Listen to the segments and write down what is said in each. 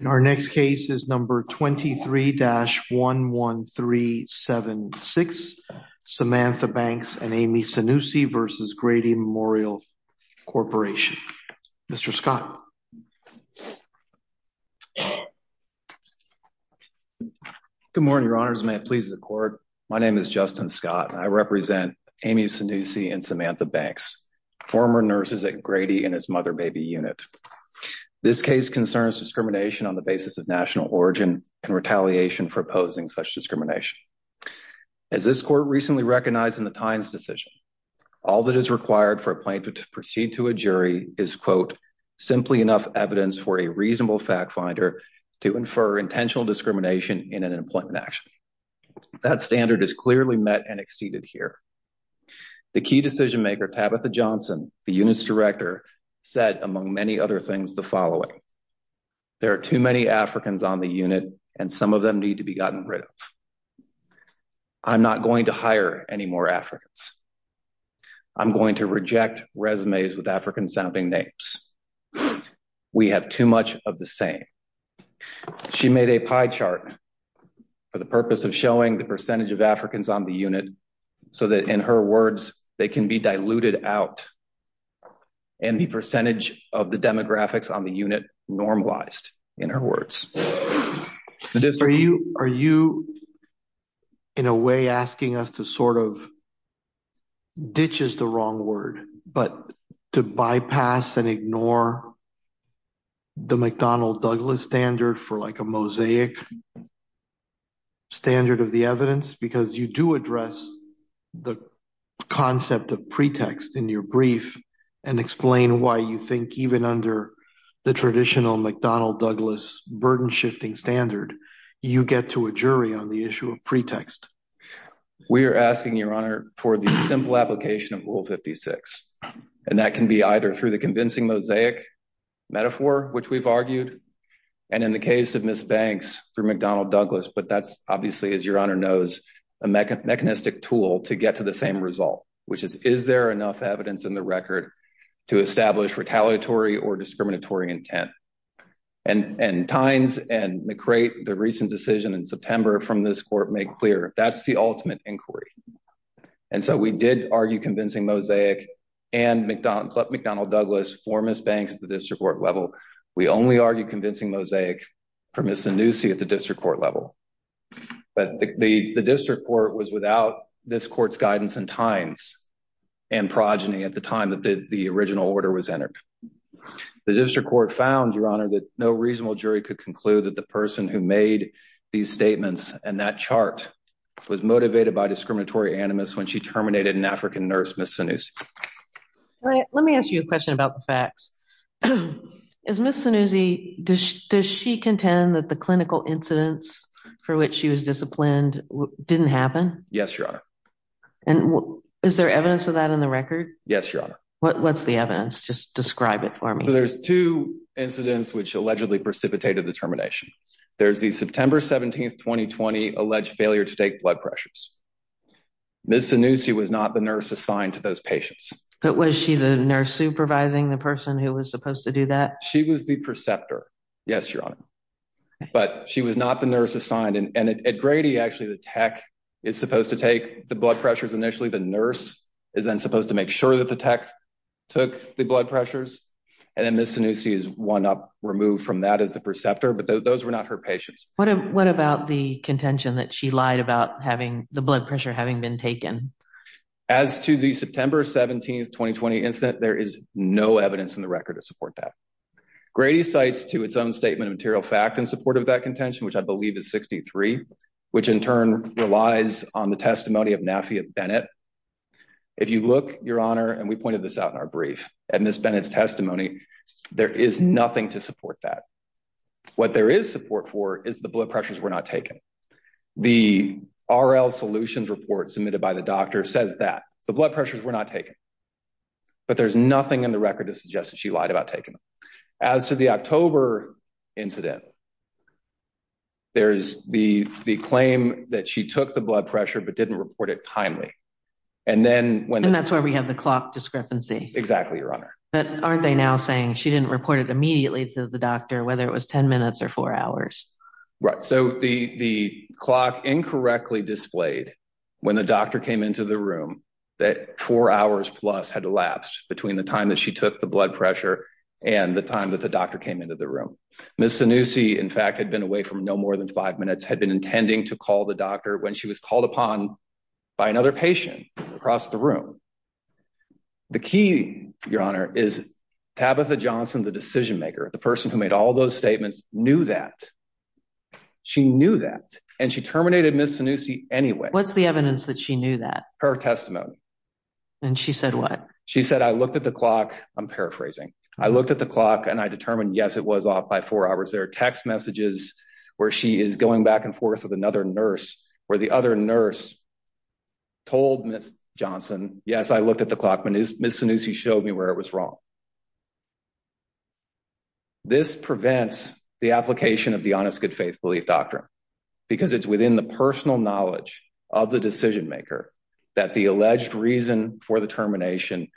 In our next case is number 23-11376. Samantha Banks and Amy Sinusi v. Grady Memorial Corporation. Mr. Scott. Good morning, your honors. May it please the court. My name is Justin Scott and I represent Amy Sinusi and Samantha Banks, former nurses at Grady in his mother-baby unit. This case concerns discrimination on the basis of national origin and retaliation for opposing such discrimination. As this court recently recognized in the times decision, all that is required for a plaintiff to proceed to a jury is quote, simply enough evidence for a reasonable fact finder to infer intentional discrimination in an employment action. That standard is clearly met and exceeded here. The key decision maker, Tabitha Johnson, the unit's director said, among many other things, the following, there are too many Africans on the unit and some of them need to be gotten rid of. I'm not going to hire any more Africans. I'm going to reject resumes with African sounding names. We have too much of the same. She made a pie chart for the purpose of showing the percentage of Africans on the unit so that in her words, they can be diluted out and the percentage of the demographics on the unit normalized in her words, the district. Are you in a way asking us to sort of ditches the wrong word, but to bypass and ignore the McDonald Douglas standard for like a mosaic standard of the evidence, because you do address the concept of pretext in your brief and explain why you think even under the traditional McDonald Douglas burden shifting standard, you get to a jury on the issue of pretext. We are asking your honor for the simple application of rule 56. And that can be either through the convincing mosaic metaphor, which we've argued and in the case of Ms. Banks through McDonald Douglas. But that's obviously, as your honor knows, a mechanistic tool to get to the same result, which is, is there enough evidence in the record to establish retaliatory or discriminatory intent? And, and tines and McRae, the recent decision in September from this court make clear that's the ultimate inquiry. And so we did argue convincing mosaic and McDonald McDonald Douglas for Ms. Banks at the district court level. We only argue convincing mosaic for Ms. Anusi at the district court level. But the district court was without this court's guidance and tines and progeny at the time that the original order was entered, the district court found your honor, that no reasonable jury could conclude that the person who made these statements and that chart was motivated by discriminatory animus when she terminated an African nurse, Ms. Anusi. Let me ask you a question about the facts. Is Ms. Anusi, does she, does she contend that the clinical incidents for which she was disciplined didn't happen? Yes, your honor. And is there evidence of that in the record? Yes, your honor. What, what's the evidence? Just describe it for me. There's two incidents which allegedly precipitated the termination. There's the September 17th, 2020 alleged failure to take blood pressures. Ms. Anusi was not the nurse assigned to those patients. But was she the nurse supervising the person who was supposed to do that? She was the preceptor. Yes, your honor, but she was not the nurse assigned. And at Grady, actually the tech is supposed to take the blood pressures. Initially, the nurse is then supposed to make sure that the tech took the blood pressures and then Ms. Anusi is one up removed from that as the preceptor. But those were not her patients. What about the contention that she lied about having the blood pressure having been taken? As to the September 17th, 2020 incident, there is no evidence in the record to support that. Grady cites to its own statement of material fact in support of that contention, which I believe is 63, which in turn relies on the testimony of Nafia Bennett. If you look, your honor, and we pointed this out in our brief, and Ms. Bennett's testimony, there is nothing to support that. What there is support for is the blood pressures were not taken. The RL solutions report submitted by the doctor says that the blood pressures were not taken, but there's nothing in the record to suggest that she lied about taking them. As to the October incident, there's the claim that she took the blood pressure, but didn't report it timely. And then when- And that's why we have the clock discrepancy. Exactly, your honor. But aren't they now saying she didn't report it immediately to the doctor, whether it was 10 minutes or four hours? Right. So the clock incorrectly displayed when the doctor came into the room that four hours plus had elapsed between the time that she took the blood pressure and the time that the doctor came into the room. Ms. Zanussi, in fact, had been away from no more than five minutes, had been intending to call the doctor when she was called upon by another patient across the room. The key, your honor, is Tabitha Johnson, the decision maker, the person who made all those statements, knew that. She knew that and she terminated Ms. Zanussi anyway. What's the evidence that she knew that? Her testimony. And she said what? She said, I looked at the clock. I'm paraphrasing. I looked at the clock and I determined, yes, it was off by four hours. There are text messages where she is going back and forth with another nurse, told Ms. Yes. I looked at the clock, Ms. Zanussi showed me where it was wrong. This prevents the application of the honest, good faith belief doctrine because it's within the personal knowledge of the decision maker that the alleged reason for the termination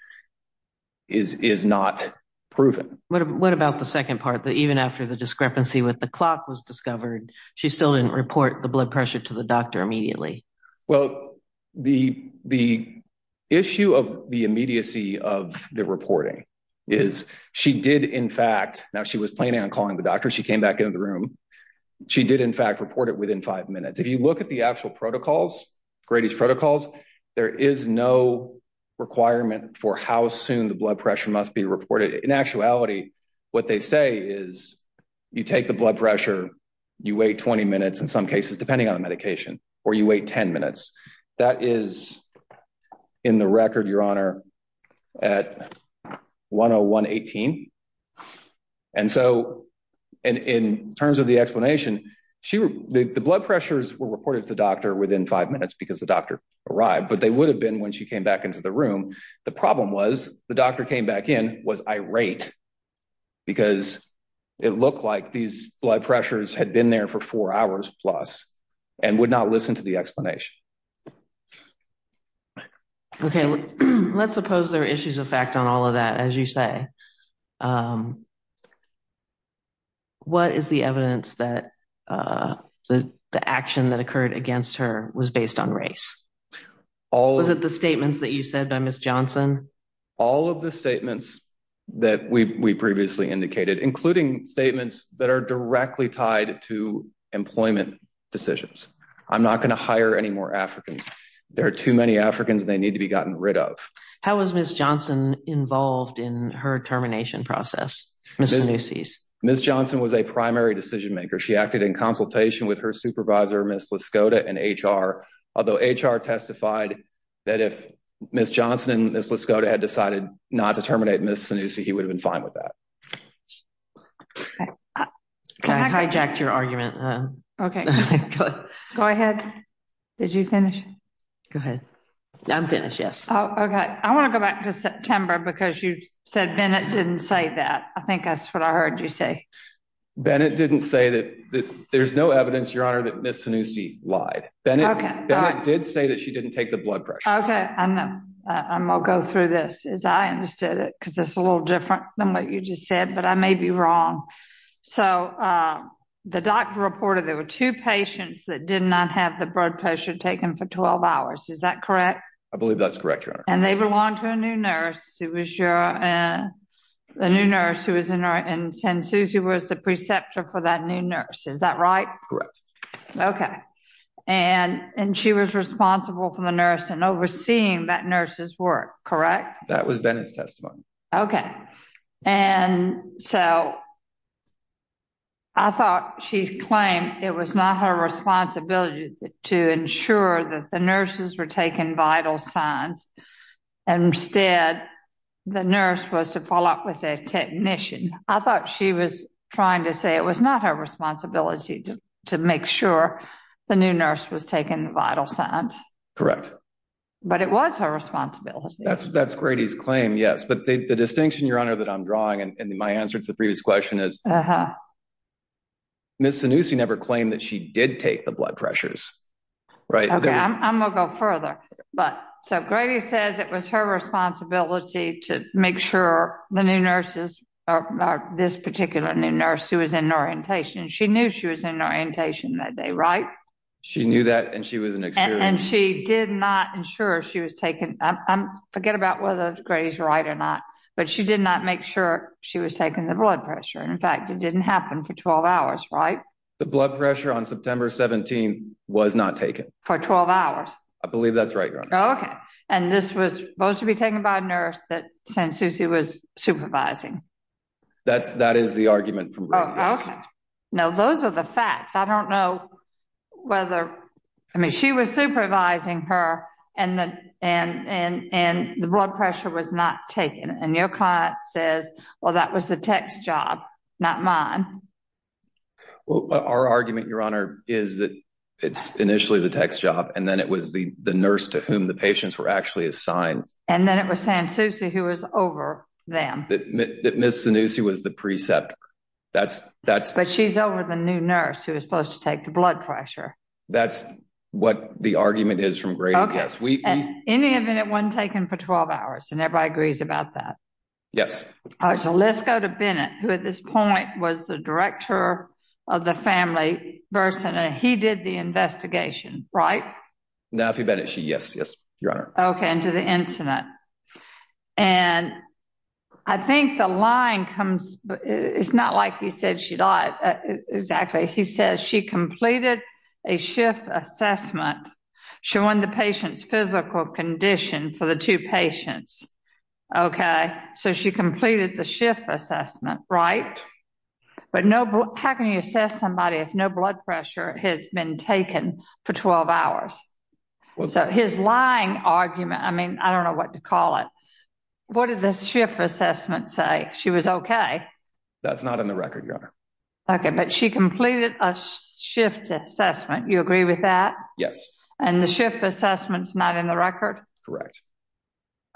is, is not proven. What about the second part that even after the discrepancy with the clock was discovered, she still didn't report the blood pressure to the doctor immediately? Well, the, the issue of the immediacy of the reporting is she did. In fact, now she was planning on calling the doctor. She came back into the room. She did in fact report it within five minutes. If you look at the actual protocols, Grady's protocols, there is no requirement for how soon the blood pressure must be reported in actuality. What they say is you take the blood pressure, you wait 20 minutes in some cases, depending on the medication. Or you wait 10 minutes that is in the record, your honor at 101 18. And so, and in terms of the explanation, she, the blood pressures were reported to the doctor within five minutes because the doctor arrived, but they would have been when she came back into the room. The problem was the doctor came back in, was irate because it looked like these blood pressures had been there for four hours plus and would not listen to the explanation. Okay. Let's suppose there are issues of fact on all of that. As you say, um, what is the evidence that, uh, the, the action that occurred against her was based on race? All of the statements that you said by Ms. Johnson, all of the statements that we, we previously indicated, including statements that are directly tied to employment decisions, I'm not going to hire any more Africans. There are too many Africans. They need to be gotten rid of. How was Ms. Johnson involved in her termination process? Ms. Johnson was a primary decision-maker. She acted in consultation with her supervisor, Ms. LaScoda and HR, although HR testified that if Ms. Johnson and Ms. LaScoda had decided not to terminate Ms. Sanusi, he would have been fine with that. Can I hijack your argument? Okay, go ahead. Did you finish? Go ahead. I'm finished. Oh, okay. I want to go back to September because you said Bennett didn't say that. I think that's what I heard you say. Bennett didn't say that there's no evidence, your honor, that Ms. Sanusi lied. Bennett did say that she didn't take the blood pressure. Okay. I know. I'm I'll go through this as I understood it. Cause it's a little different than what you just said, but I may be wrong. So, uh, the doctor reported there were two patients that did not have the blood pressure taken for 12 hours. Is that correct? I believe that's correct, your honor. And they belong to a new nurse. It was your, uh, the new nurse who was in our, in Sanusi was the preceptor for that new nurse. Is that right? Correct. Okay. And, and she was responsible for the nurse and overseeing that nurse's work, correct? That was Bennett's testimony. Okay. And so I thought she's claimed it was not her responsibility to ensure that the nurses were taken vital signs and instead the nurse was to follow up with a technician. I thought she was trying to say it was not her responsibility to make sure the new nurse was taken vital signs. But it was her responsibility. That's that's Grady's claim. Yes. But the distinction, your honor, that I'm drawing and my answer to the previous question is Ms. Sanusi never claimed that she did take the blood pressures, right? I'm going to go further, but so Grady says it was her responsibility to make sure the new nurses or this particular new nurse who was in orientation, she knew she was in orientation that day, right? She knew that. And she was, and she did not ensure she was taken. Um, forget about whether Grady's right or not, but she did not make sure she was taking the blood pressure. And in fact, it didn't happen for 12 hours. Right. The blood pressure on September 17th was not taken for 12 hours. I believe that's right. Okay. And this was supposed to be taken by a nurse that Sanusi was supervising. That's that is the argument from Grady's. No, those are the facts. I don't know whether, I mean, she was supervising her and the, and, and, and the blood pressure was not taken. And your client says, well, that was the tech's job, not mine. Well, our argument, your honor, is that it's initially the tech's job. And then it was the, the nurse to whom the patients were actually assigned. And then it was Sanusi who was over them. Ms. Sanusi was the preceptor. That's, that's, but she's over the new nurse who was supposed to take the blood pressure. That's what the argument is from Grady. Yes. We, any of it wasn't taken for 12 hours and everybody agrees about that. Yes. All right. So let's go to Bennett, who at this point was the director of the family person, and he did the investigation, right? No, if you bet it, she, yes, yes, your honor. Okay. And to the incident. And I think the line comes, it's not like he said, she died exactly. He says she completed a shift assessment showing the patient's physical condition for the two patients. Okay. So she completed the shift assessment, right? But no, how can you assess somebody? If no blood pressure has been taken for 12 hours, so his lying argument, I mean, I don't know what to call it. What did the shift assessment say? She was okay. That's not in the record. Your honor. Okay. But she completed a shift assessment. You agree with that? Yes. And the shift assessment's not in the record. Correct.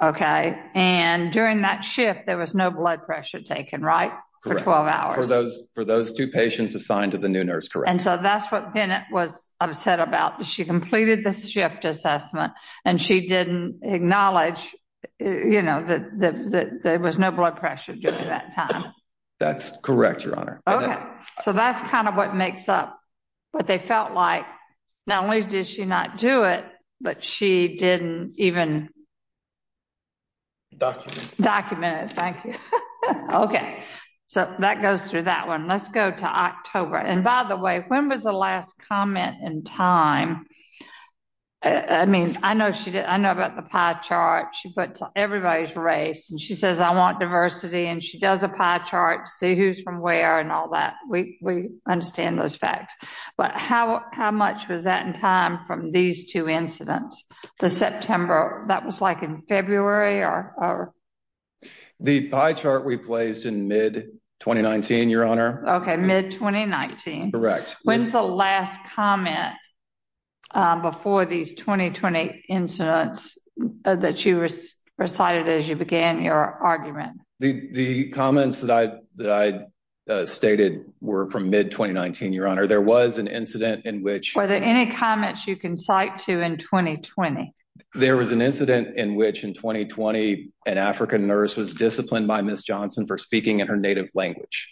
Okay. And during that shift, there was no blood pressure taken, right? For 12 hours. For those, for those two patients assigned to the new nurse. Correct. And so that's what Bennett was upset about. She completed the shift assessment and she didn't acknowledge, you know, that, that, that there was no blood pressure during that time. That's correct, your honor. Okay. So that's kind of what makes up what they felt like. Not only did she not do it, but she didn't even document it. Thank you. Okay. So that goes through that one. Let's go to October. And by the way, when was the last comment in time? I mean, I know she did. I know about the pie chart. She puts everybody's race and she says, I want diversity. And she does a pie chart to see who's from where and all that. We, we understand those facts. But how, how much was that in time from these two incidents, the September, that was like in February or? The pie chart we placed in mid 2019, your honor. Mid 2019. When's the last comment before these 2020 incidents that you recited as you began your argument? The, the comments that I, that I stated were from mid 2019, your honor. There was an incident in which, any comments you can cite to in 2020, there was an incident in which in 2020, an African nurse was disciplined by miss Johnson for speaking in her native language,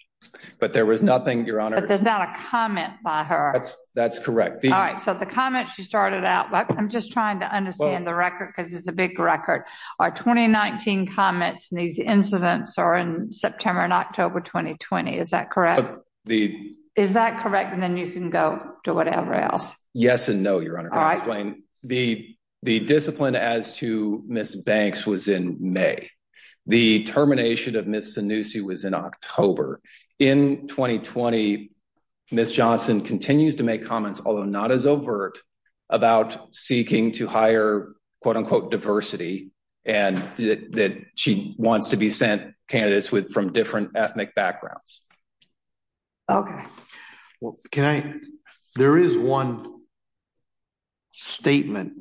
but there was nothing, your honor, there's not a comment by her. That's correct. All right. So the comment she started out, I'm just trying to understand the record because it's a big record. Our 2019 comments and these incidents are in September and October, 2020, is that correct? The, is that correct? And then you can go to whatever else. Yes. And no, your honor, explain the, the discipline as to miss Banks was in May. The termination of miss Sanusi was in October in 2020, miss Johnson continues to make comments, although not as overt about seeking to hire quote unquote diversity and that she wants to be sent candidates with, from different ethnic backgrounds. Okay. Well, can I, there is one statement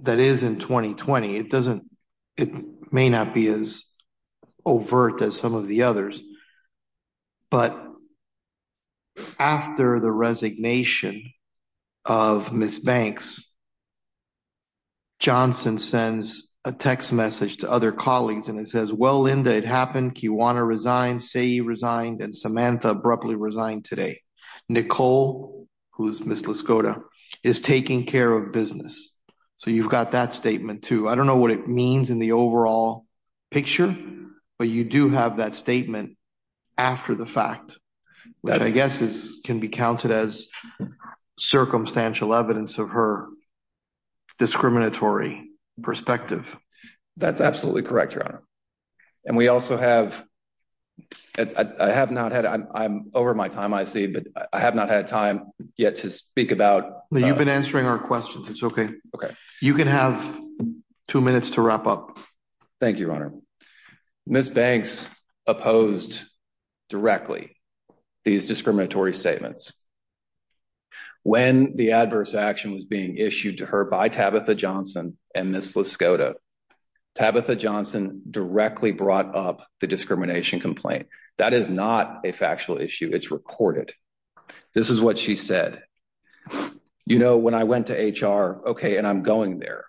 that is in 2020, it doesn't, it may not be as overt as some of the others, but after the resignation of miss Banks, Johnson sends a text message to other colleagues and it says, well, Linda, it happened. You want to resign, say he resigned and Samantha abruptly resigned today. Nicole who's miss Lascota is taking care of business. So you've got that statement too. I don't know what it means in the overall picture, but you do have that statement after the fact, which I guess is, can be counted as circumstantial evidence of her discriminatory perspective. That's absolutely correct. And we also have, I have not had, I'm over my time. I see, but I have not had time yet to speak about the, you've been answering our questions. It's okay. Okay. You can have two minutes to wrap up. Thank you, your honor. Miss Banks opposed directly these discriminatory statements when the adverse action was being issued to her by Tabitha Johnson and miss Lascota. Tabitha Johnson directly brought up the discrimination complaint. That is not a factual issue. It's recorded. This is what she said. You know, when I went to HR, okay. And I'm going there.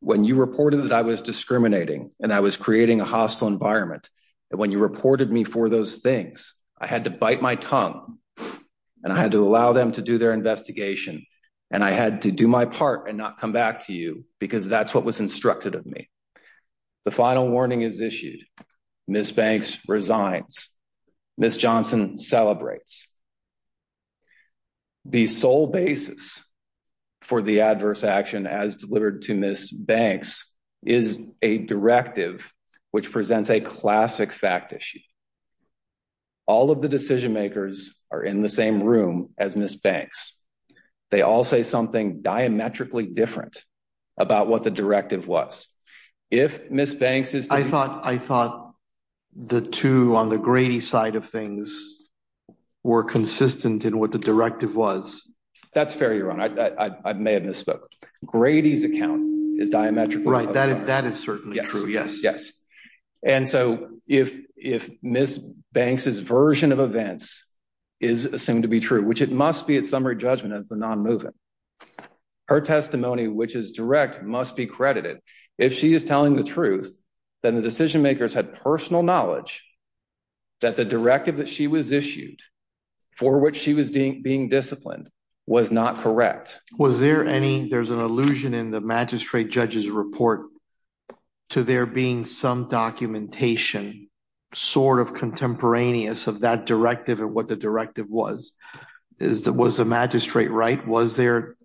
When you reported that I was discriminating and I was creating a hostile environment and when you reported me for those things, I had to bite my tongue and I had to allow them to do their investigation and I had to do my part and not come back to you because that's what was instructed of me. The final warning is issued. Miss Banks resigns. Miss Johnson celebrates. The sole basis for the adverse action as delivered to Miss Banks is a directive which presents a classic fact issue. All of the decision makers are in the same room as Miss Banks. They all say something diametrically different about what the directive was. If Miss Banks is, I thought, I thought the two on the Grady side of things were consistent in what the directive was. That's fair. You're on. I, I, I may have misspoke. Grady's account is diametrically. That is, that is certainly true. Yes. Yes. And so if, if Miss Banks is version of events is assumed to be true, which it must be at summary judgment as the non-moving her testimony, which is direct, must be credited if she is telling the truth, then the decision makers had personal knowledge that the directive that she was issued for what she was being, being disciplined was not correct. Was there any, there's an illusion in the magistrate judge's report to there being some documentation sort of contemporaneous of that directive and what the directive was, is that was the magistrate, right? Was there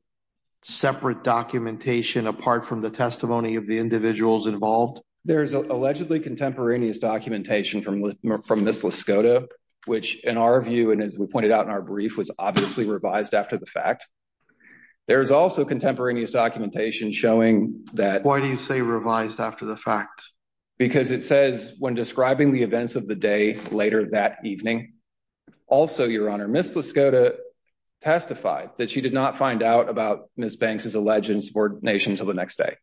separate documentation apart from the testimony of the individuals involved? There's allegedly contemporaneous documentation from, from this Laskota, which in our view, and as we pointed out in our brief was obviously revised after the fact, there's also contemporaneous documentation showing that. Why do you say revised after the fact? Because it says when describing the events of the day later that evening. Also, your honor, Miss Laskota testified that she did not find out about Miss Banks' alleged subordination until the next day.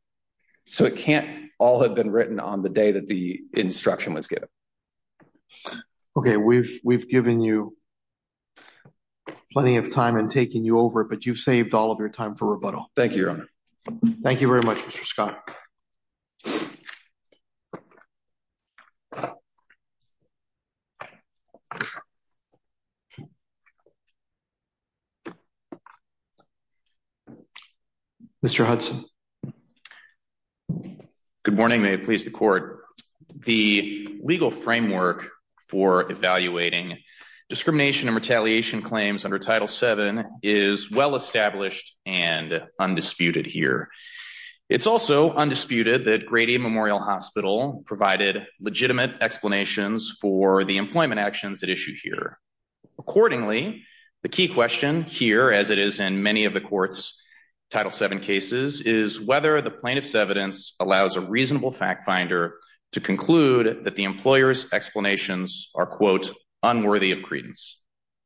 So it can't all have been written on the day that the instruction was given. Okay. We've, we've given you plenty of time and taking you over, but you've saved all of your time for rebuttal. Thank you, your honor. Thank you very much, Mr. Scott. Mr. Good morning. May it please the court. The legal framework for evaluating discrimination and retaliation claims under title seven is well-established and undisputed here. It's also undisputed that Grady Memorial Hospital provided legitimate explanations for the employment actions at issue here. Accordingly, the key question here, as it is in many of the court's title seven cases is whether the plaintiff's evidence allows a reasonable fact finder to conclude that the employer's explanations are quote unworthy of credence,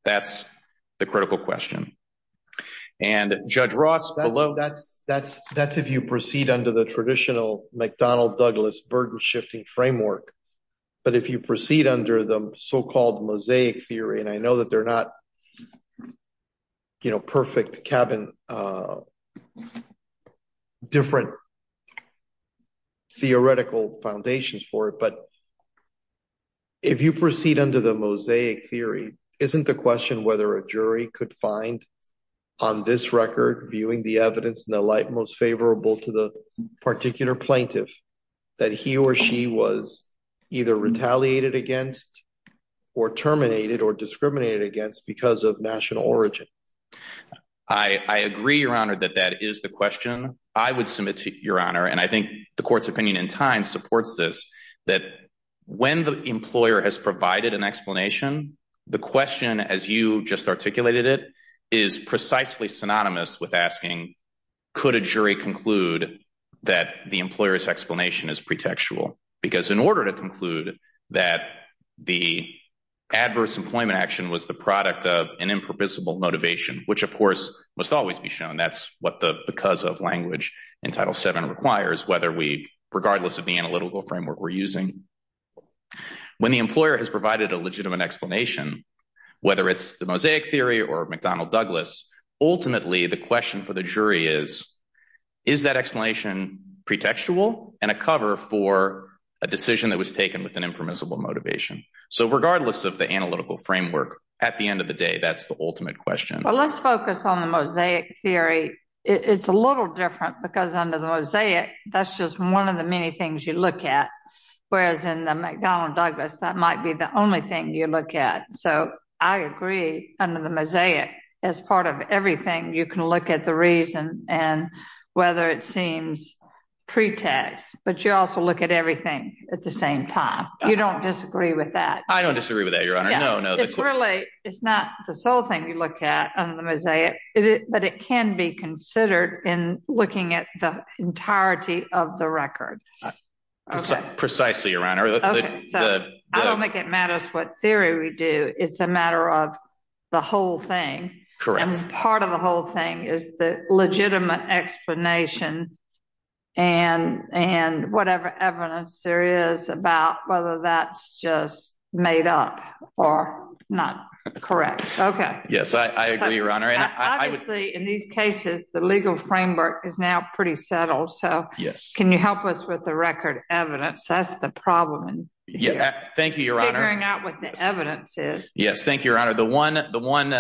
that's the critical question. And judge Ross, that's, that's, that's, if you proceed under the traditional McDonnell Douglas burden shifting framework, but if you proceed under the so-called mosaic theory, and I know that they're not, you know, perfect cabin, uh, different theoretical foundations for it, but if you proceed under the mosaic theory, isn't the question, whether a jury could find on this record, viewing the evidence in the light, most favorable to the particular plaintiff that he or she was either retaliated against or terminated or discriminated against because of national origin, I agree, your honor, that that is the question I would submit to your honor. And I think the court's opinion in time supports this, that when the employer has provided an explanation, the question, as you just articulated it is precisely synonymous with asking, could a jury conclude that the employer's explanation is pretextual because in order to conclude that the adverse employment action was the product of an impermissible motivation, which of course must always be shown, that's what the, because of language in title seven requires, whether we, regardless of the analytical framework we're using, when the employer has provided a legitimate explanation, whether it's the mosaic theory or McDonnell Douglas, ultimately the question for the jury is, is that explanation pretextual and a cover for a decision that was taken with an impermissible motivation? So regardless of the analytical framework, at the end of the day, that's the ultimate question. Well, let's focus on the mosaic theory. It's a little different because under the mosaic, that's just one of the many things you look at. Whereas in the McDonnell Douglas, that might be the only thing you look at. So I agree under the mosaic as part of everything, you can look at the reason and whether it seems pretext, but you also look at everything at the same time, you don't disagree with that. I don't disagree with that, Your Honor. No, no, it's really, it's not the sole thing you look at under the mosaic, but it can be considered in looking at the entirety of the record. Precisely, Your Honor. So I don't make it matters what theory we do. It's a matter of the whole thing, and part of the whole thing is the legitimate explanation and, and whatever evidence there is about whether that's just made up or not correct. Yes, I agree, Your Honor. And obviously in these cases, the legal framework is now pretty settled. So can you help us with the record evidence? That's the problem. Yeah, thank you, Your Honor. Figuring out what the evidence is. Yes. Thank you, Your Honor. The one, the one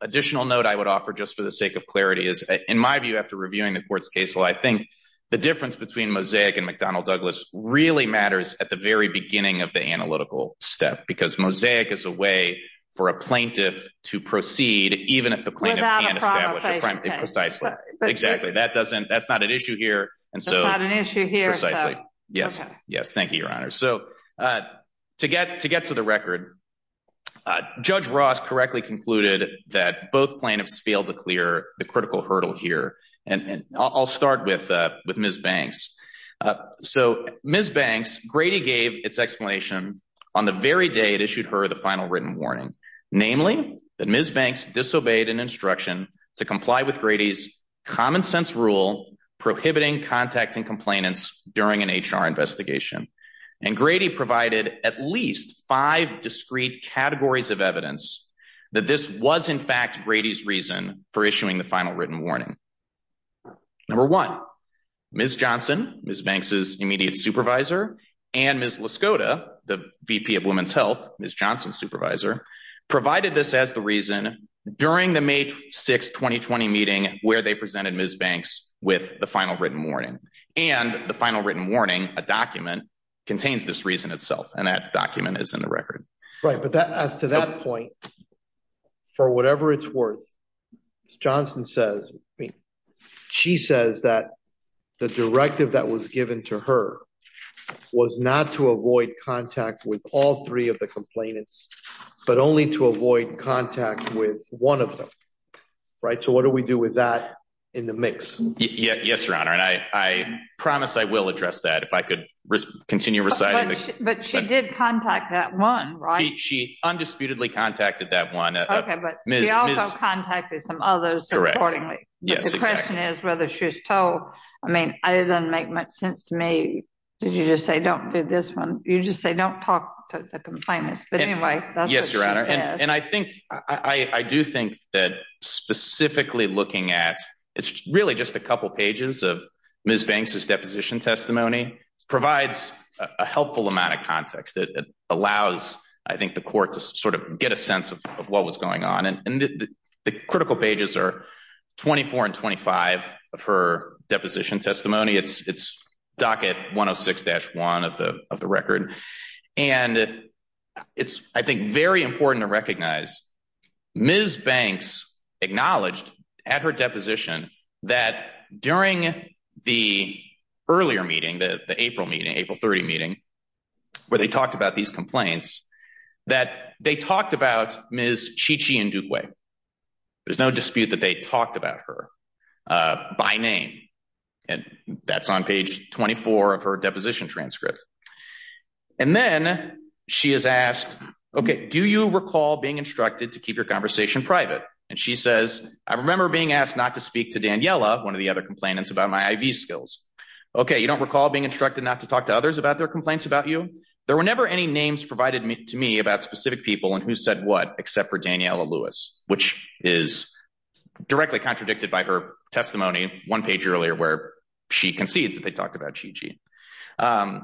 additional note I would offer just for the sake of clarity is in my view, after reviewing the court's case law, I think the difference between mosaic and McDonnell Douglas really matters at the very beginning of the analytical step, because mosaic is a way for a plaintiff to proceed, even if the plaintiff can't establish a crime, precisely. Exactly. That doesn't, that's not an issue here. And so, precisely. Yes. Yes. Thank you, Your Honor. So to get, to get to the record, Judge Ross correctly concluded that both plaintiffs failed to clear the critical hurdle here. And I'll start with, with Ms. Banks. So Ms. Banks, Grady gave its explanation on the very day it issued her the final written warning, namely that Ms. Banks disobeyed an instruction to comply with Grady's common sense rule prohibiting contact and complainants during an HR investigation. And Grady provided at least five discrete categories of evidence that this was in fact Grady's reason for issuing the final written warning. Number one, Ms. Johnson, Ms. Banks' immediate supervisor, and Ms. LaScoda, the VP of Women's Health, Ms. Johnson's supervisor, provided this as the reason during the May 6th, 2020 meeting where they presented Ms. Banks with the final written warning. And the final written warning, a document, contains this reason itself. And that document is in the record. Right. But that, as to that point, for whatever it's worth, Ms. Johnson says, I mean, she says that the directive that was given to her was not to avoid contact with all three of the complainants, but only to avoid contact with one of them, right? So what do we do with that in the mix? Yes, Your Honor. And I promise I will address that if I could continue reciting. But she did contact that one, right? She undisputedly contacted that one. Okay. But she also contacted some others, accordingly. Yes. The question is whether she was told. I mean, it doesn't make much sense to me that you just say, don't do this one. You just say, don't talk to the complainants. But anyway, that's what she says. And I think, I do think that specifically looking at, it's really just a couple pages of Ms. Banks's deposition testimony provides a helpful amount of context that allows, I think, the court to sort of get a sense of what was going on. And the critical pages are 24 and 25 of her deposition testimony. It's docket 106-1 of the record. And it's, I think, very important to recognize Ms. Banks acknowledged at her deposition that during the earlier meeting, the April meeting, April 30 meeting, where they talked about these complaints, that they talked about Ms. Chi Chi Ndugwe. There's no dispute that they talked about her by name. And that's on page 24 of her deposition transcript. And then she is asked, OK, do you recall being instructed to keep your conversation private? And she says, I remember being asked not to speak to Daniela, one of the other complainants, about my IV skills. OK, you don't recall being instructed not to talk to others about their complaints about you? There were never any names provided to me about specific people and who said what, except for Daniela Lewis, which is directly contradicted by her testimony. One page earlier where she concedes that they talked about Chi Chi.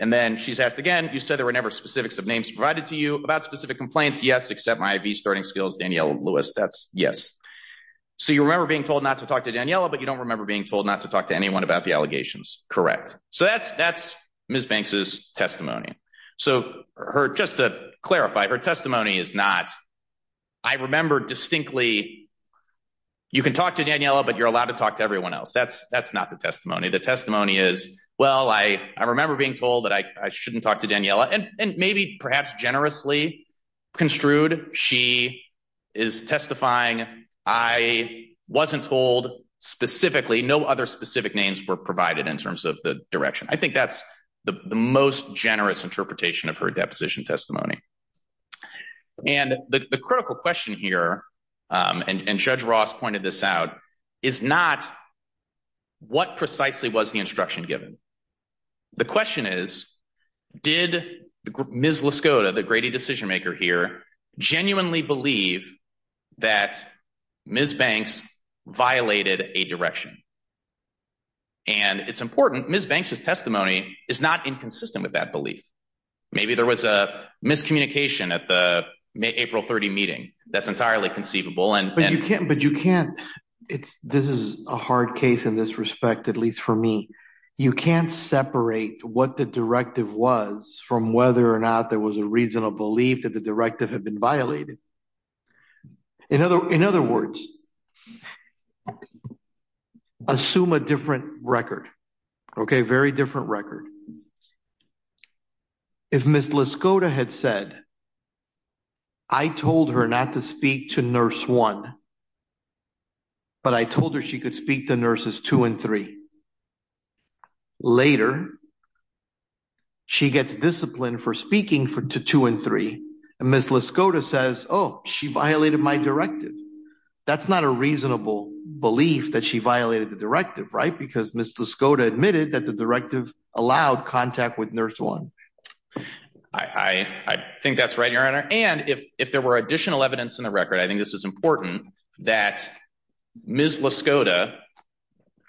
And then she's asked again, you said there were never specifics of names provided to you about specific complaints. Yes, except my IV starting skills, Daniela Lewis. That's yes. So you remember being told not to talk to Daniela, but you don't remember being told not to talk to anyone about the allegations. Correct. So that's that's Ms. Banks's testimony. So her just to clarify, her testimony is not. I remember distinctly you can talk to Daniela, but you're allowed to talk to everyone else. That's that's not the testimony. The testimony is, well, I remember being told that I shouldn't talk to Daniela and maybe perhaps generously construed. She is testifying. I wasn't told specifically. No other specific names were provided in terms of the direction. I think that's the most generous interpretation of her deposition testimony. And the critical question here, and Judge Ross pointed this out, is not. What precisely was the instruction given? The question is, did Ms. Laskota, the gritty decision maker here, genuinely believe that Ms. Banks violated a direction? And it's important, Ms. Banks's testimony is not inconsistent with that belief. Maybe there was a miscommunication at the April 30 meeting. That's entirely conceivable. And you can't but you can't. It's this is a hard case in this respect, at least for me. You can't separate what the directive was from whether or not there was a reasonable belief that the directive had been violated. In other words, assume a different record. OK, very different record. If Ms. Laskota had said. I told her not to speak to nurse one. But I told her she could speak to nurses two and three. Later. She gets discipline for speaking to two and three, and Ms. Laskota says, oh, she violated my directive. That's not a reasonable belief that she violated the directive, right? Because Ms. Laskota admitted that the directive allowed contact with nurse one. I think that's right, your honor. And if if there were additional evidence in the record, I think this is important that Ms. Laskota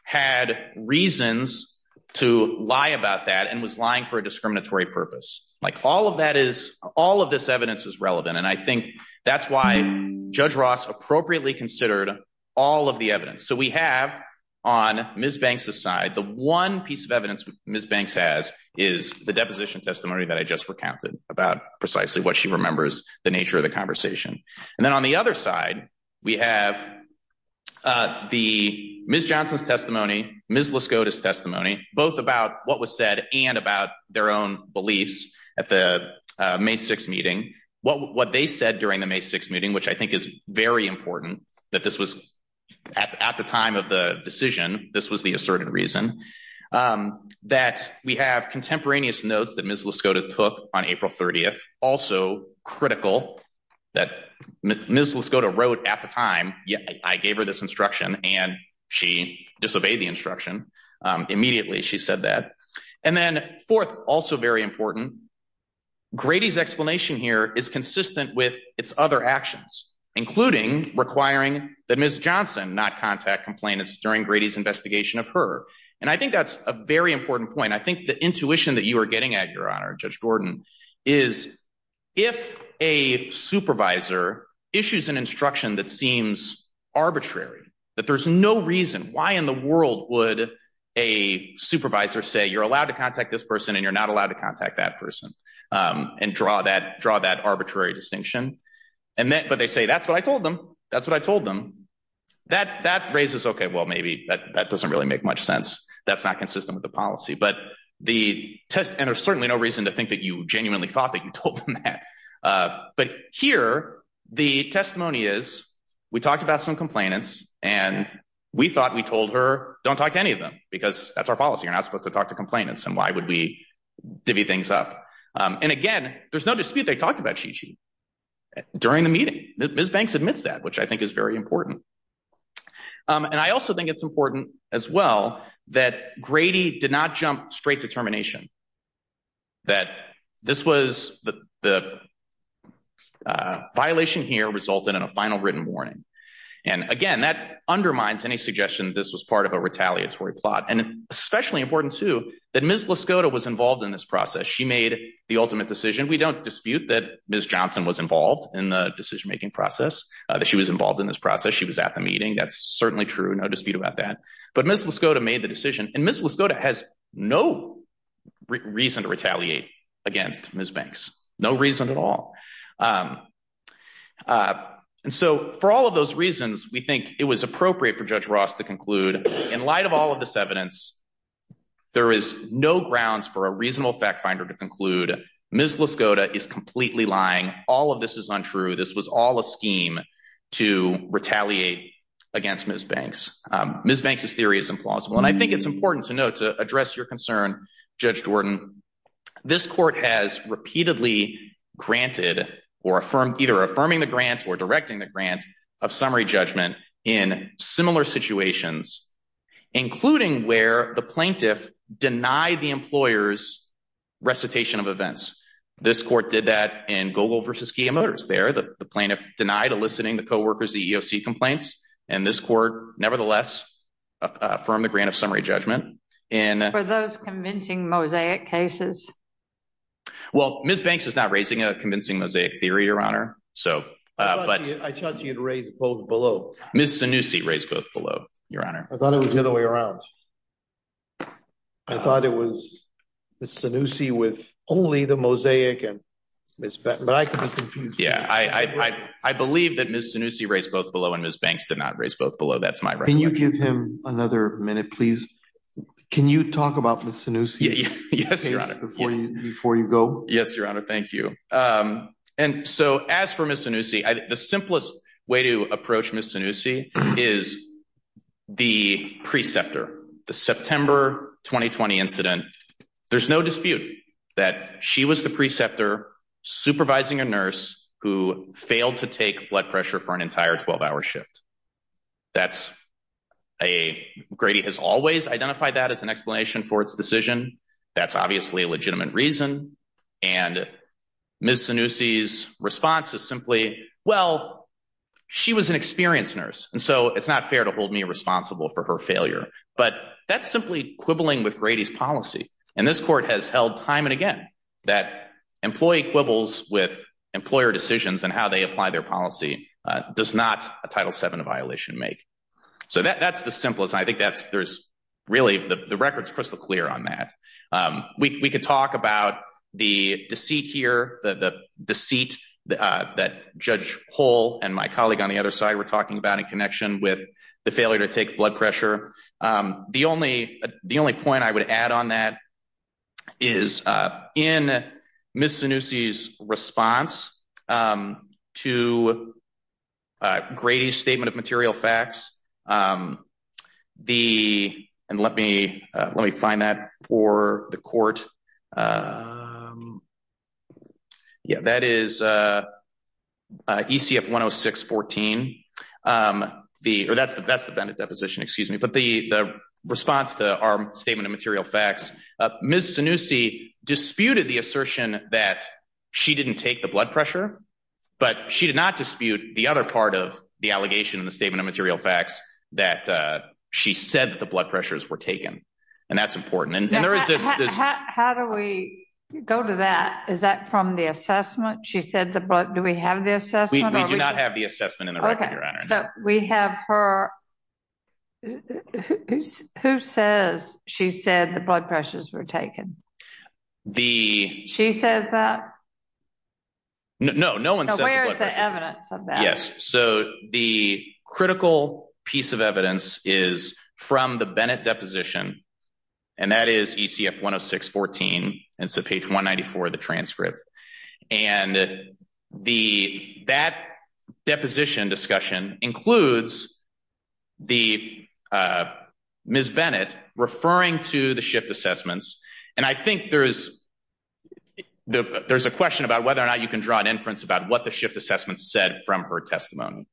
had reasons to lie about that and was lying for a discriminatory purpose. Like all of that is all of this evidence is relevant. And I think that's why Judge Ross appropriately considered all of the evidence. So we have on Ms. Banks aside, the one piece of evidence Ms. Banks has is the deposition testimony that I just recounted about precisely what she remembers, the nature of the conversation. And then on the other side, we have the Ms. Johnson's testimony, Ms. Laskota's testimony, both about what was said and about their own beliefs at the May 6 meeting, what they said during the May 6 meeting, which I think is very important that this was at the time of the decision. This was the asserted reason that we have contemporaneous notes that Ms. Laskota took on April 30th. Also critical that Ms. Laskota wrote at the time. Yeah, I gave her this instruction and she disobeyed the instruction immediately. She said that. And then fourth, also very important, Grady's explanation here is consistent with its other actions, including requiring that Ms. Johnson not contact complainants during Grady's investigation of her. And I think that's a very important point. I think the intuition that you are getting at, Your Honor, Judge Gordon, is if a supervisor issues an instruction that seems arbitrary, that there's no reason why in the world would a supervisor say you're allowed to contact this person and you're not allowed to contact that person and draw that draw that arbitrary distinction. And then but they say, that's what I told them. That's what I told them. That that raises, OK, well, maybe that doesn't really make much sense. That's not consistent with the policy. But the test and there's certainly no reason to think that you genuinely thought that you told them that. But here the testimony is we talked about some complainants and we thought we told her, don't talk to any of them because that's our policy. You're not supposed to talk to complainants. And why would we divvy things up? And again, there's no dispute. They talked about Gigi during the meeting. Ms. Banks admits that, which I think is very important. And I also think it's important as well that Grady did not jump straight to termination. That this was the violation here resulted in a final written warning. And again, that undermines any suggestion this was part of a retaliatory plot. And especially important, too, that Ms. LaScoda was involved in this process. She made the ultimate decision. We don't dispute that Ms. Johnson was involved in the decision making process, that she was involved in this process. She was at the meeting. That's certainly true. No dispute about that. But Ms. LaScoda made the decision. And Ms. LaScoda has no reason to retaliate against Ms. Banks. No reason at all. And so for all of those reasons, we think it was appropriate for Judge Ross to conclude in light of all of this evidence, there is no grounds for a reasonable fact finder to conclude Ms. LaScoda is completely lying. All of this is untrue. This was all a scheme to retaliate against Ms. Banks. Ms. Banks' theory is implausible. And I think it's important to note, to address your concern, Judge Jordan, this court has repeatedly granted or affirmed either affirming the grant or directing the grant of summary judgment in similar situations, including where the plaintiff denied the employer's recitation of events. This court did that in Gogol versus Kia Motors. There, the plaintiff denied eliciting the co-workers EEOC complaints. And this court, nevertheless, affirmed the grant of summary judgment. And for those convincing mosaic cases. Well, Ms. Banks is not raising a convincing mosaic theory, Your Honor. So but I thought she had raised both below. Ms. Sanusi raised both below, Your Honor. I thought it was the other way around. I thought it was Ms. Sanusi with only the mosaic and Ms. But I could be confused. Yeah, I believe that Ms. Sanusi raised both below and Ms. Banks did not raise both below. That's my right. Can you give him another minute, please? Can you talk about Ms. Sanusi's case before you go? Yes, Your Honor. Thank you. And so as for Ms. The simplest way to approach Ms. Sanusi is the preceptor, the September 2020 incident. There's no dispute that she was the preceptor supervising a nurse who failed to take blood pressure for an entire 12 hour shift. That's a, Grady has always identified that as an explanation for its decision. That's obviously a legitimate reason. And Ms. Sanusi's response is simply, well, she was an experienced nurse. And so it's not fair to hold me responsible for her failure, but that's simply quibbling with Grady's policy. And this court has held time and again that employee quibbles with employer decisions and how they apply their policy does not a Title VII violation make. So that's the simplest. I think that's, there's really, the record's crystal clear on that. We could talk about the deceit here, the deceit that Judge Hull and my colleague on the other side were talking about in connection with the failure to take blood pressure. The only point I would add on that is in Ms. Sanusi's response to Grady's statement of material facts, the, and let me find that for the court, yeah, that is, ECF 10614, the, or that's the, that's the Bennett deposition, excuse me. But the, the response to our statement of material facts, Ms. Sanusi disputed the assertion that she didn't take the blood pressure, but she did not dispute the other part of the allegation in the statement of material facts that she said that the blood pressures were taken. And that's important. And there is this, this, how do we go to that? Is that from the assessment? She said the blood, do we have the assessment? We do not have the assessment in the record, Your Honor. So we have her, who says she said the blood pressures were taken? The, she says that? No, no, no one says the blood pressure. So where is the evidence of that? Yes. So the critical piece of evidence is from the Bennett deposition. And that is ECF 10614, and it's a page 194 of the transcript. And the, that deposition discussion includes the Ms. Bennett referring to the shift assessments. And I think there's, there's a question about whether or not you can draw an inference about what the shift assessment said from her testimony.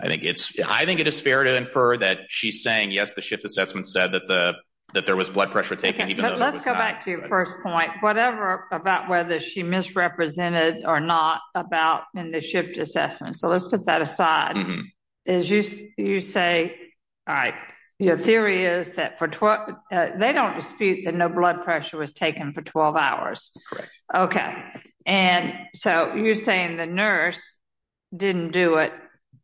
I think it's, I think it is fair to infer that she's saying, yes, the shift assessment said that the, that there was blood pressure taken, even though. Let's go back to your first point, whatever about whether she misrepresented or not about in the shift assessment. So let's put that aside. As you, you say, all right, your theory is that for 12, they don't dispute that no blood pressure was taken for 12 hours. Okay. And so you're saying the nurse didn't do it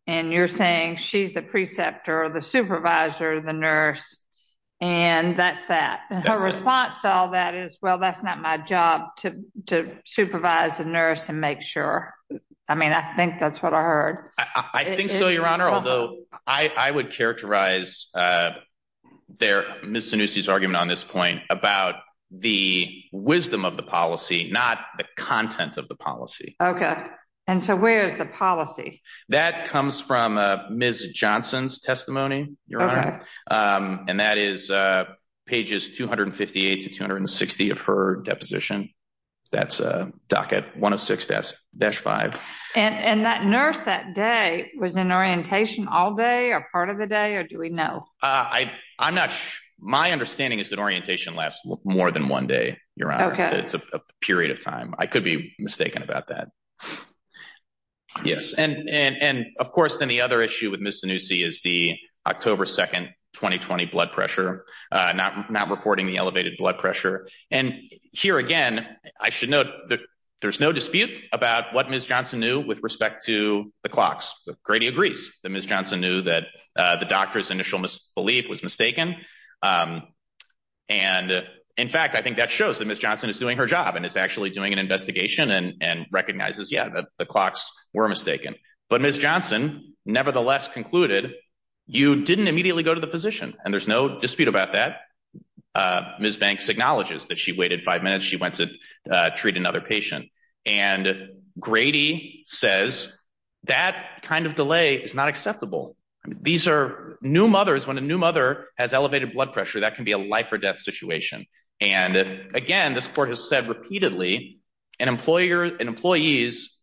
and you're saying she's the preceptor, the supervisor, the nurse, and that's that her response to all that is, well, that's not my job to, to supervise the nurse and make sure. I mean, I think that's what I heard. I think so, your honor. Although I would characterize their Ms. argument on this point about the wisdom of the policy, not the content of the policy. And so where's the policy that comes from a Ms. Johnson's testimony, your honor. Um, and that is, uh, pages 258 to 260 of her deposition. That's a docket one of six desk dash five. And that nurse that day was in orientation all day or part of the day. Or do we know? Uh, I, I'm not, my understanding is that orientation lasts more than one day. You're right. It's a period of time. I could be mistaken about that. Yes. And, and, and of course, then the other issue with Ms. Zanussi is the October 2nd, 2020 blood pressure, uh, not, not reporting the elevated blood pressure. And here again, I should note that there's no dispute about what Ms. Johnson knew with respect to the clocks. Grady agrees that Ms. Initial misbelief was mistaken. Um, and in fact, I think that shows that Ms. Johnson is doing her job and is actually doing an investigation and recognizes. Yeah, the clocks were mistaken, but Ms. Johnson nevertheless concluded. You didn't immediately go to the physician and there's no dispute about that. Uh, Ms. Banks acknowledges that she waited five minutes. She went to treat another patient and Grady says that kind of delay is not acceptable. These are new mothers. When a new mother has elevated blood pressure, that can be a life or death situation. And again, this court has said repeatedly an employer, an employee's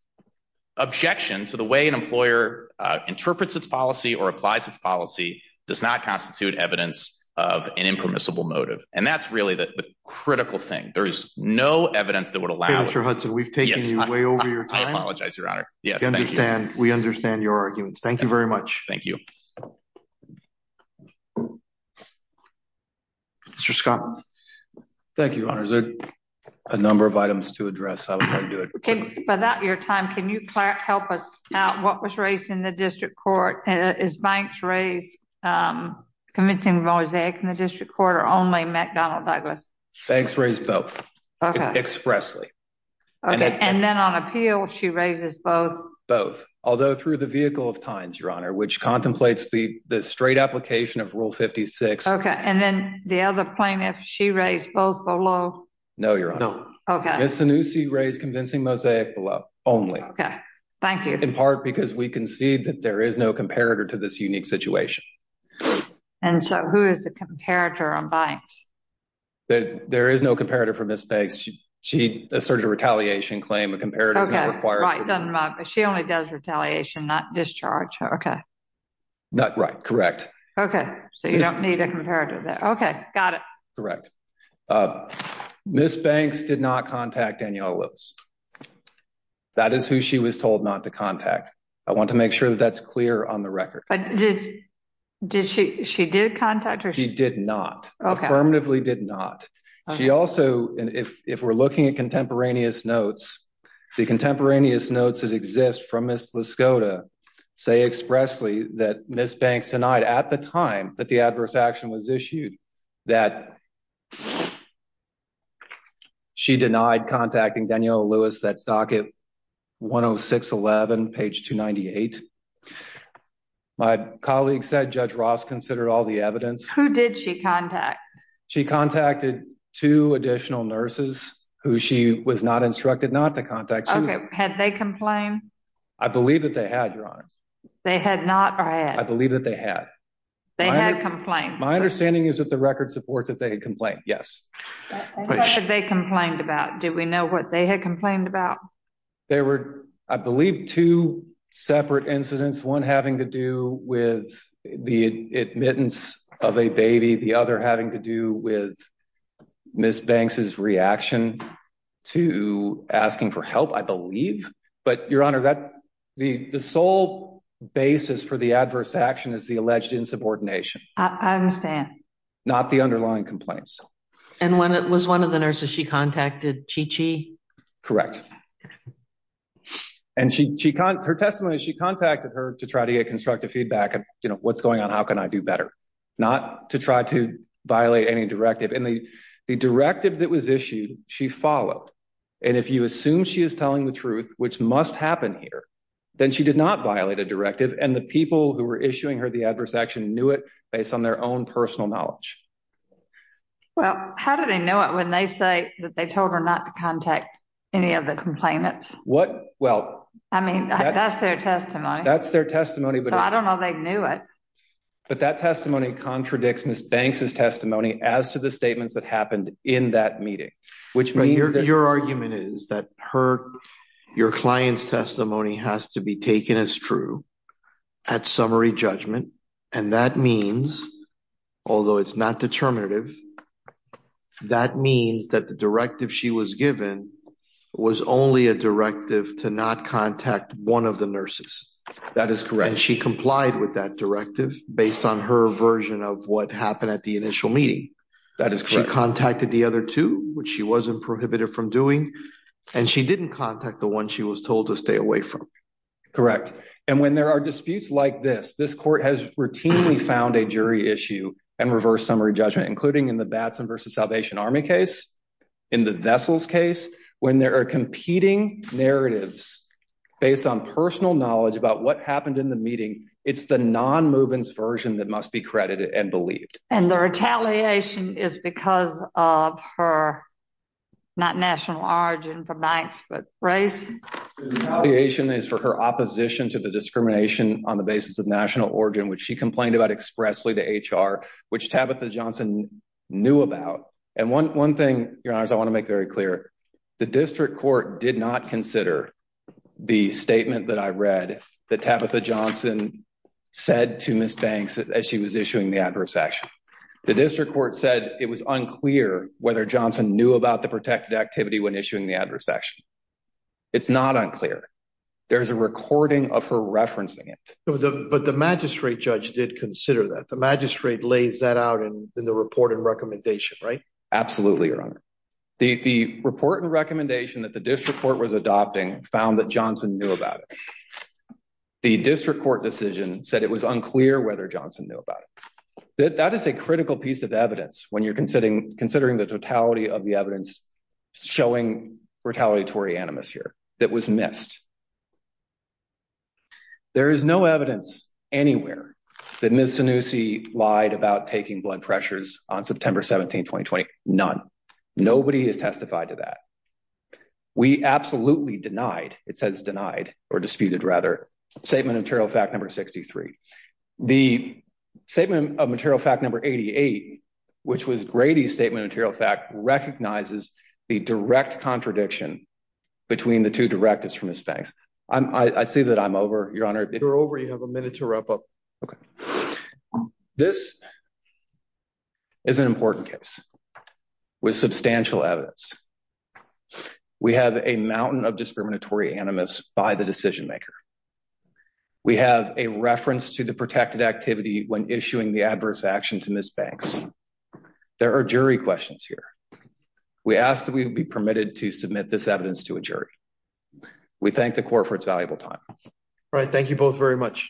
objection to the way an employer, uh, interprets its policy or applies its policy does not constitute evidence of an impermissible motive. And that's really the critical thing. There is no evidence that would allow. Hudson. We've taken you way over your time. I apologize, your honor. Yes. Thank you. I understand. We understand your arguments. Thank you very much. Thank you. Mr. Scott. Thank you. Honors it a number of items to address. I was going to do it without your time. Can you help us out? What was raised in the district court? Uh, is banks raised, um, commencing mosaic in the district court or only met Donald Douglas? Thanks. Raised both expressly. Okay. And then on appeal, she raises both, both, although through the vehicle of your honor, which contemplates the, the straight application of rule 56. And then the other plaintiff, she raised both below. No, your honor. Okay. Yes. The new C raised convincing mosaic below only. Okay. Thank you. In part, because we can see that there is no comparator to this unique situation. And so who is the comparator on banks? That there is no comparator for Ms. Banks. She, she asserted a retaliation claim. A comparator is not required. She only does retaliation, not discharge. Not right. So you don't need a comparative there. Got it. Correct. Uh, Ms. Banks did not contact Daniela Lewis. That is who she was told not to contact. I want to make sure that that's clear on the record. Did she, she did contact her? She did not. Okay. Affirmatively did not. She also, if we're looking at contemporaneous notes, the contemporaneous notes that exist from Ms. Lascota say expressly that Ms. Banks denied at the time that the adverse action was issued. That she denied contacting Daniela Lewis. That's docket one Oh six 11 page two 98. My colleagues said judge Ross considered all the evidence. Who did she contact? She contacted two additional nurses who she was not instructed not to contact. Had they complained? I believe that they had your honor. They had not. I believe that they had. They had complained. My understanding is that the record supports that they had complained. Yes. They complained about, did we know what they had complained about? There were, I believe two separate incidents, one having to do with the admittance of a baby, the other having to do with Ms. Banks's reaction to asking for help. I believe, but your honor, that the, the sole basis for the adverse action is the alleged insubordination. I understand. Not the underlying complaints. And when it was one of the nurses, she contacted Chi Chi. And she, she, her testimony, she contacted her to try to get constructive feedback. And you know, what's going on, how can I do better not to try to violate any directive? And the, the directive that was issued, she followed. And if you assume she is telling the truth, which must happen here, then she did not violate a directive. And the people who were issuing her the adverse action knew it based on their own personal knowledge. Well, how do they know it when they say that they told her not to contact any of the complainants? What? Well, I mean, that's their testimony. That's their testimony. But I don't know. They knew it. But that testimony contradicts Ms. Banks's testimony as to the statements that happened in that meeting, which your argument is that her, your client's testimony has to be taken as true at summary judgment, and that means, although it's not determinative, that means that the directive she was given was only a directive to not contact one of the nurses. That is correct. And she complied with that directive based on her version of what happened at the initial meeting. That is correct. She contacted the other two, which she wasn't prohibited from doing, and she didn't contact the one she was told to stay away from. Correct. And when there are disputes like this, this court has routinely found a jury issue and reverse summary judgment, including in the Batson versus Salvation Army case, in the Vessels case, when there are competing narratives based on personal knowledge about what happened in the meeting, it's the non-movens version that must be credited and believed. And the retaliation is because of her, not national origin from Banks, but race? The retaliation is for her opposition to the discrimination on the basis of national origin, which she complained about expressly to HR, which Tabitha Johnson knew about, and one thing, Your Honors, I want to make very clear. The district court did not consider the statement that I read that Tabitha Johnson said to Ms. The district court said it was unclear whether Johnson knew about the protected activity when issuing the adverse action. It's not unclear. There's a recording of her referencing it. But the magistrate judge did consider that. The magistrate lays that out in the report and recommendation, right? Absolutely, Your Honor. The report and recommendation that the district court was adopting found that Johnson knew about it. The district court decision said it was unclear whether Johnson knew about it. That is a critical piece of evidence when you're considering the totality of the evidence showing retaliatory animus here that was missed. There is no evidence anywhere that Ms. Sanussi lied about taking blood pressures on September 17, 2020. None. Nobody has testified to that. We absolutely denied, it says denied or disputed rather, statement of material fact number 63. The statement of material fact number 88, which was Grady's statement of material fact recognizes the direct contradiction between the two directives from Ms. Banks. I see that I'm over, Your Honor. You're over. You have a minute to wrap up. Okay. This is an important case with substantial evidence. We have a mountain of discriminatory animus by the decision maker. We have a reference to the protected activity when issuing the adverse action to Ms. Banks. There are jury questions here. We ask that we would be permitted to submit this evidence to a jury. We thank the court for its valuable time. All right. Thank you both very much.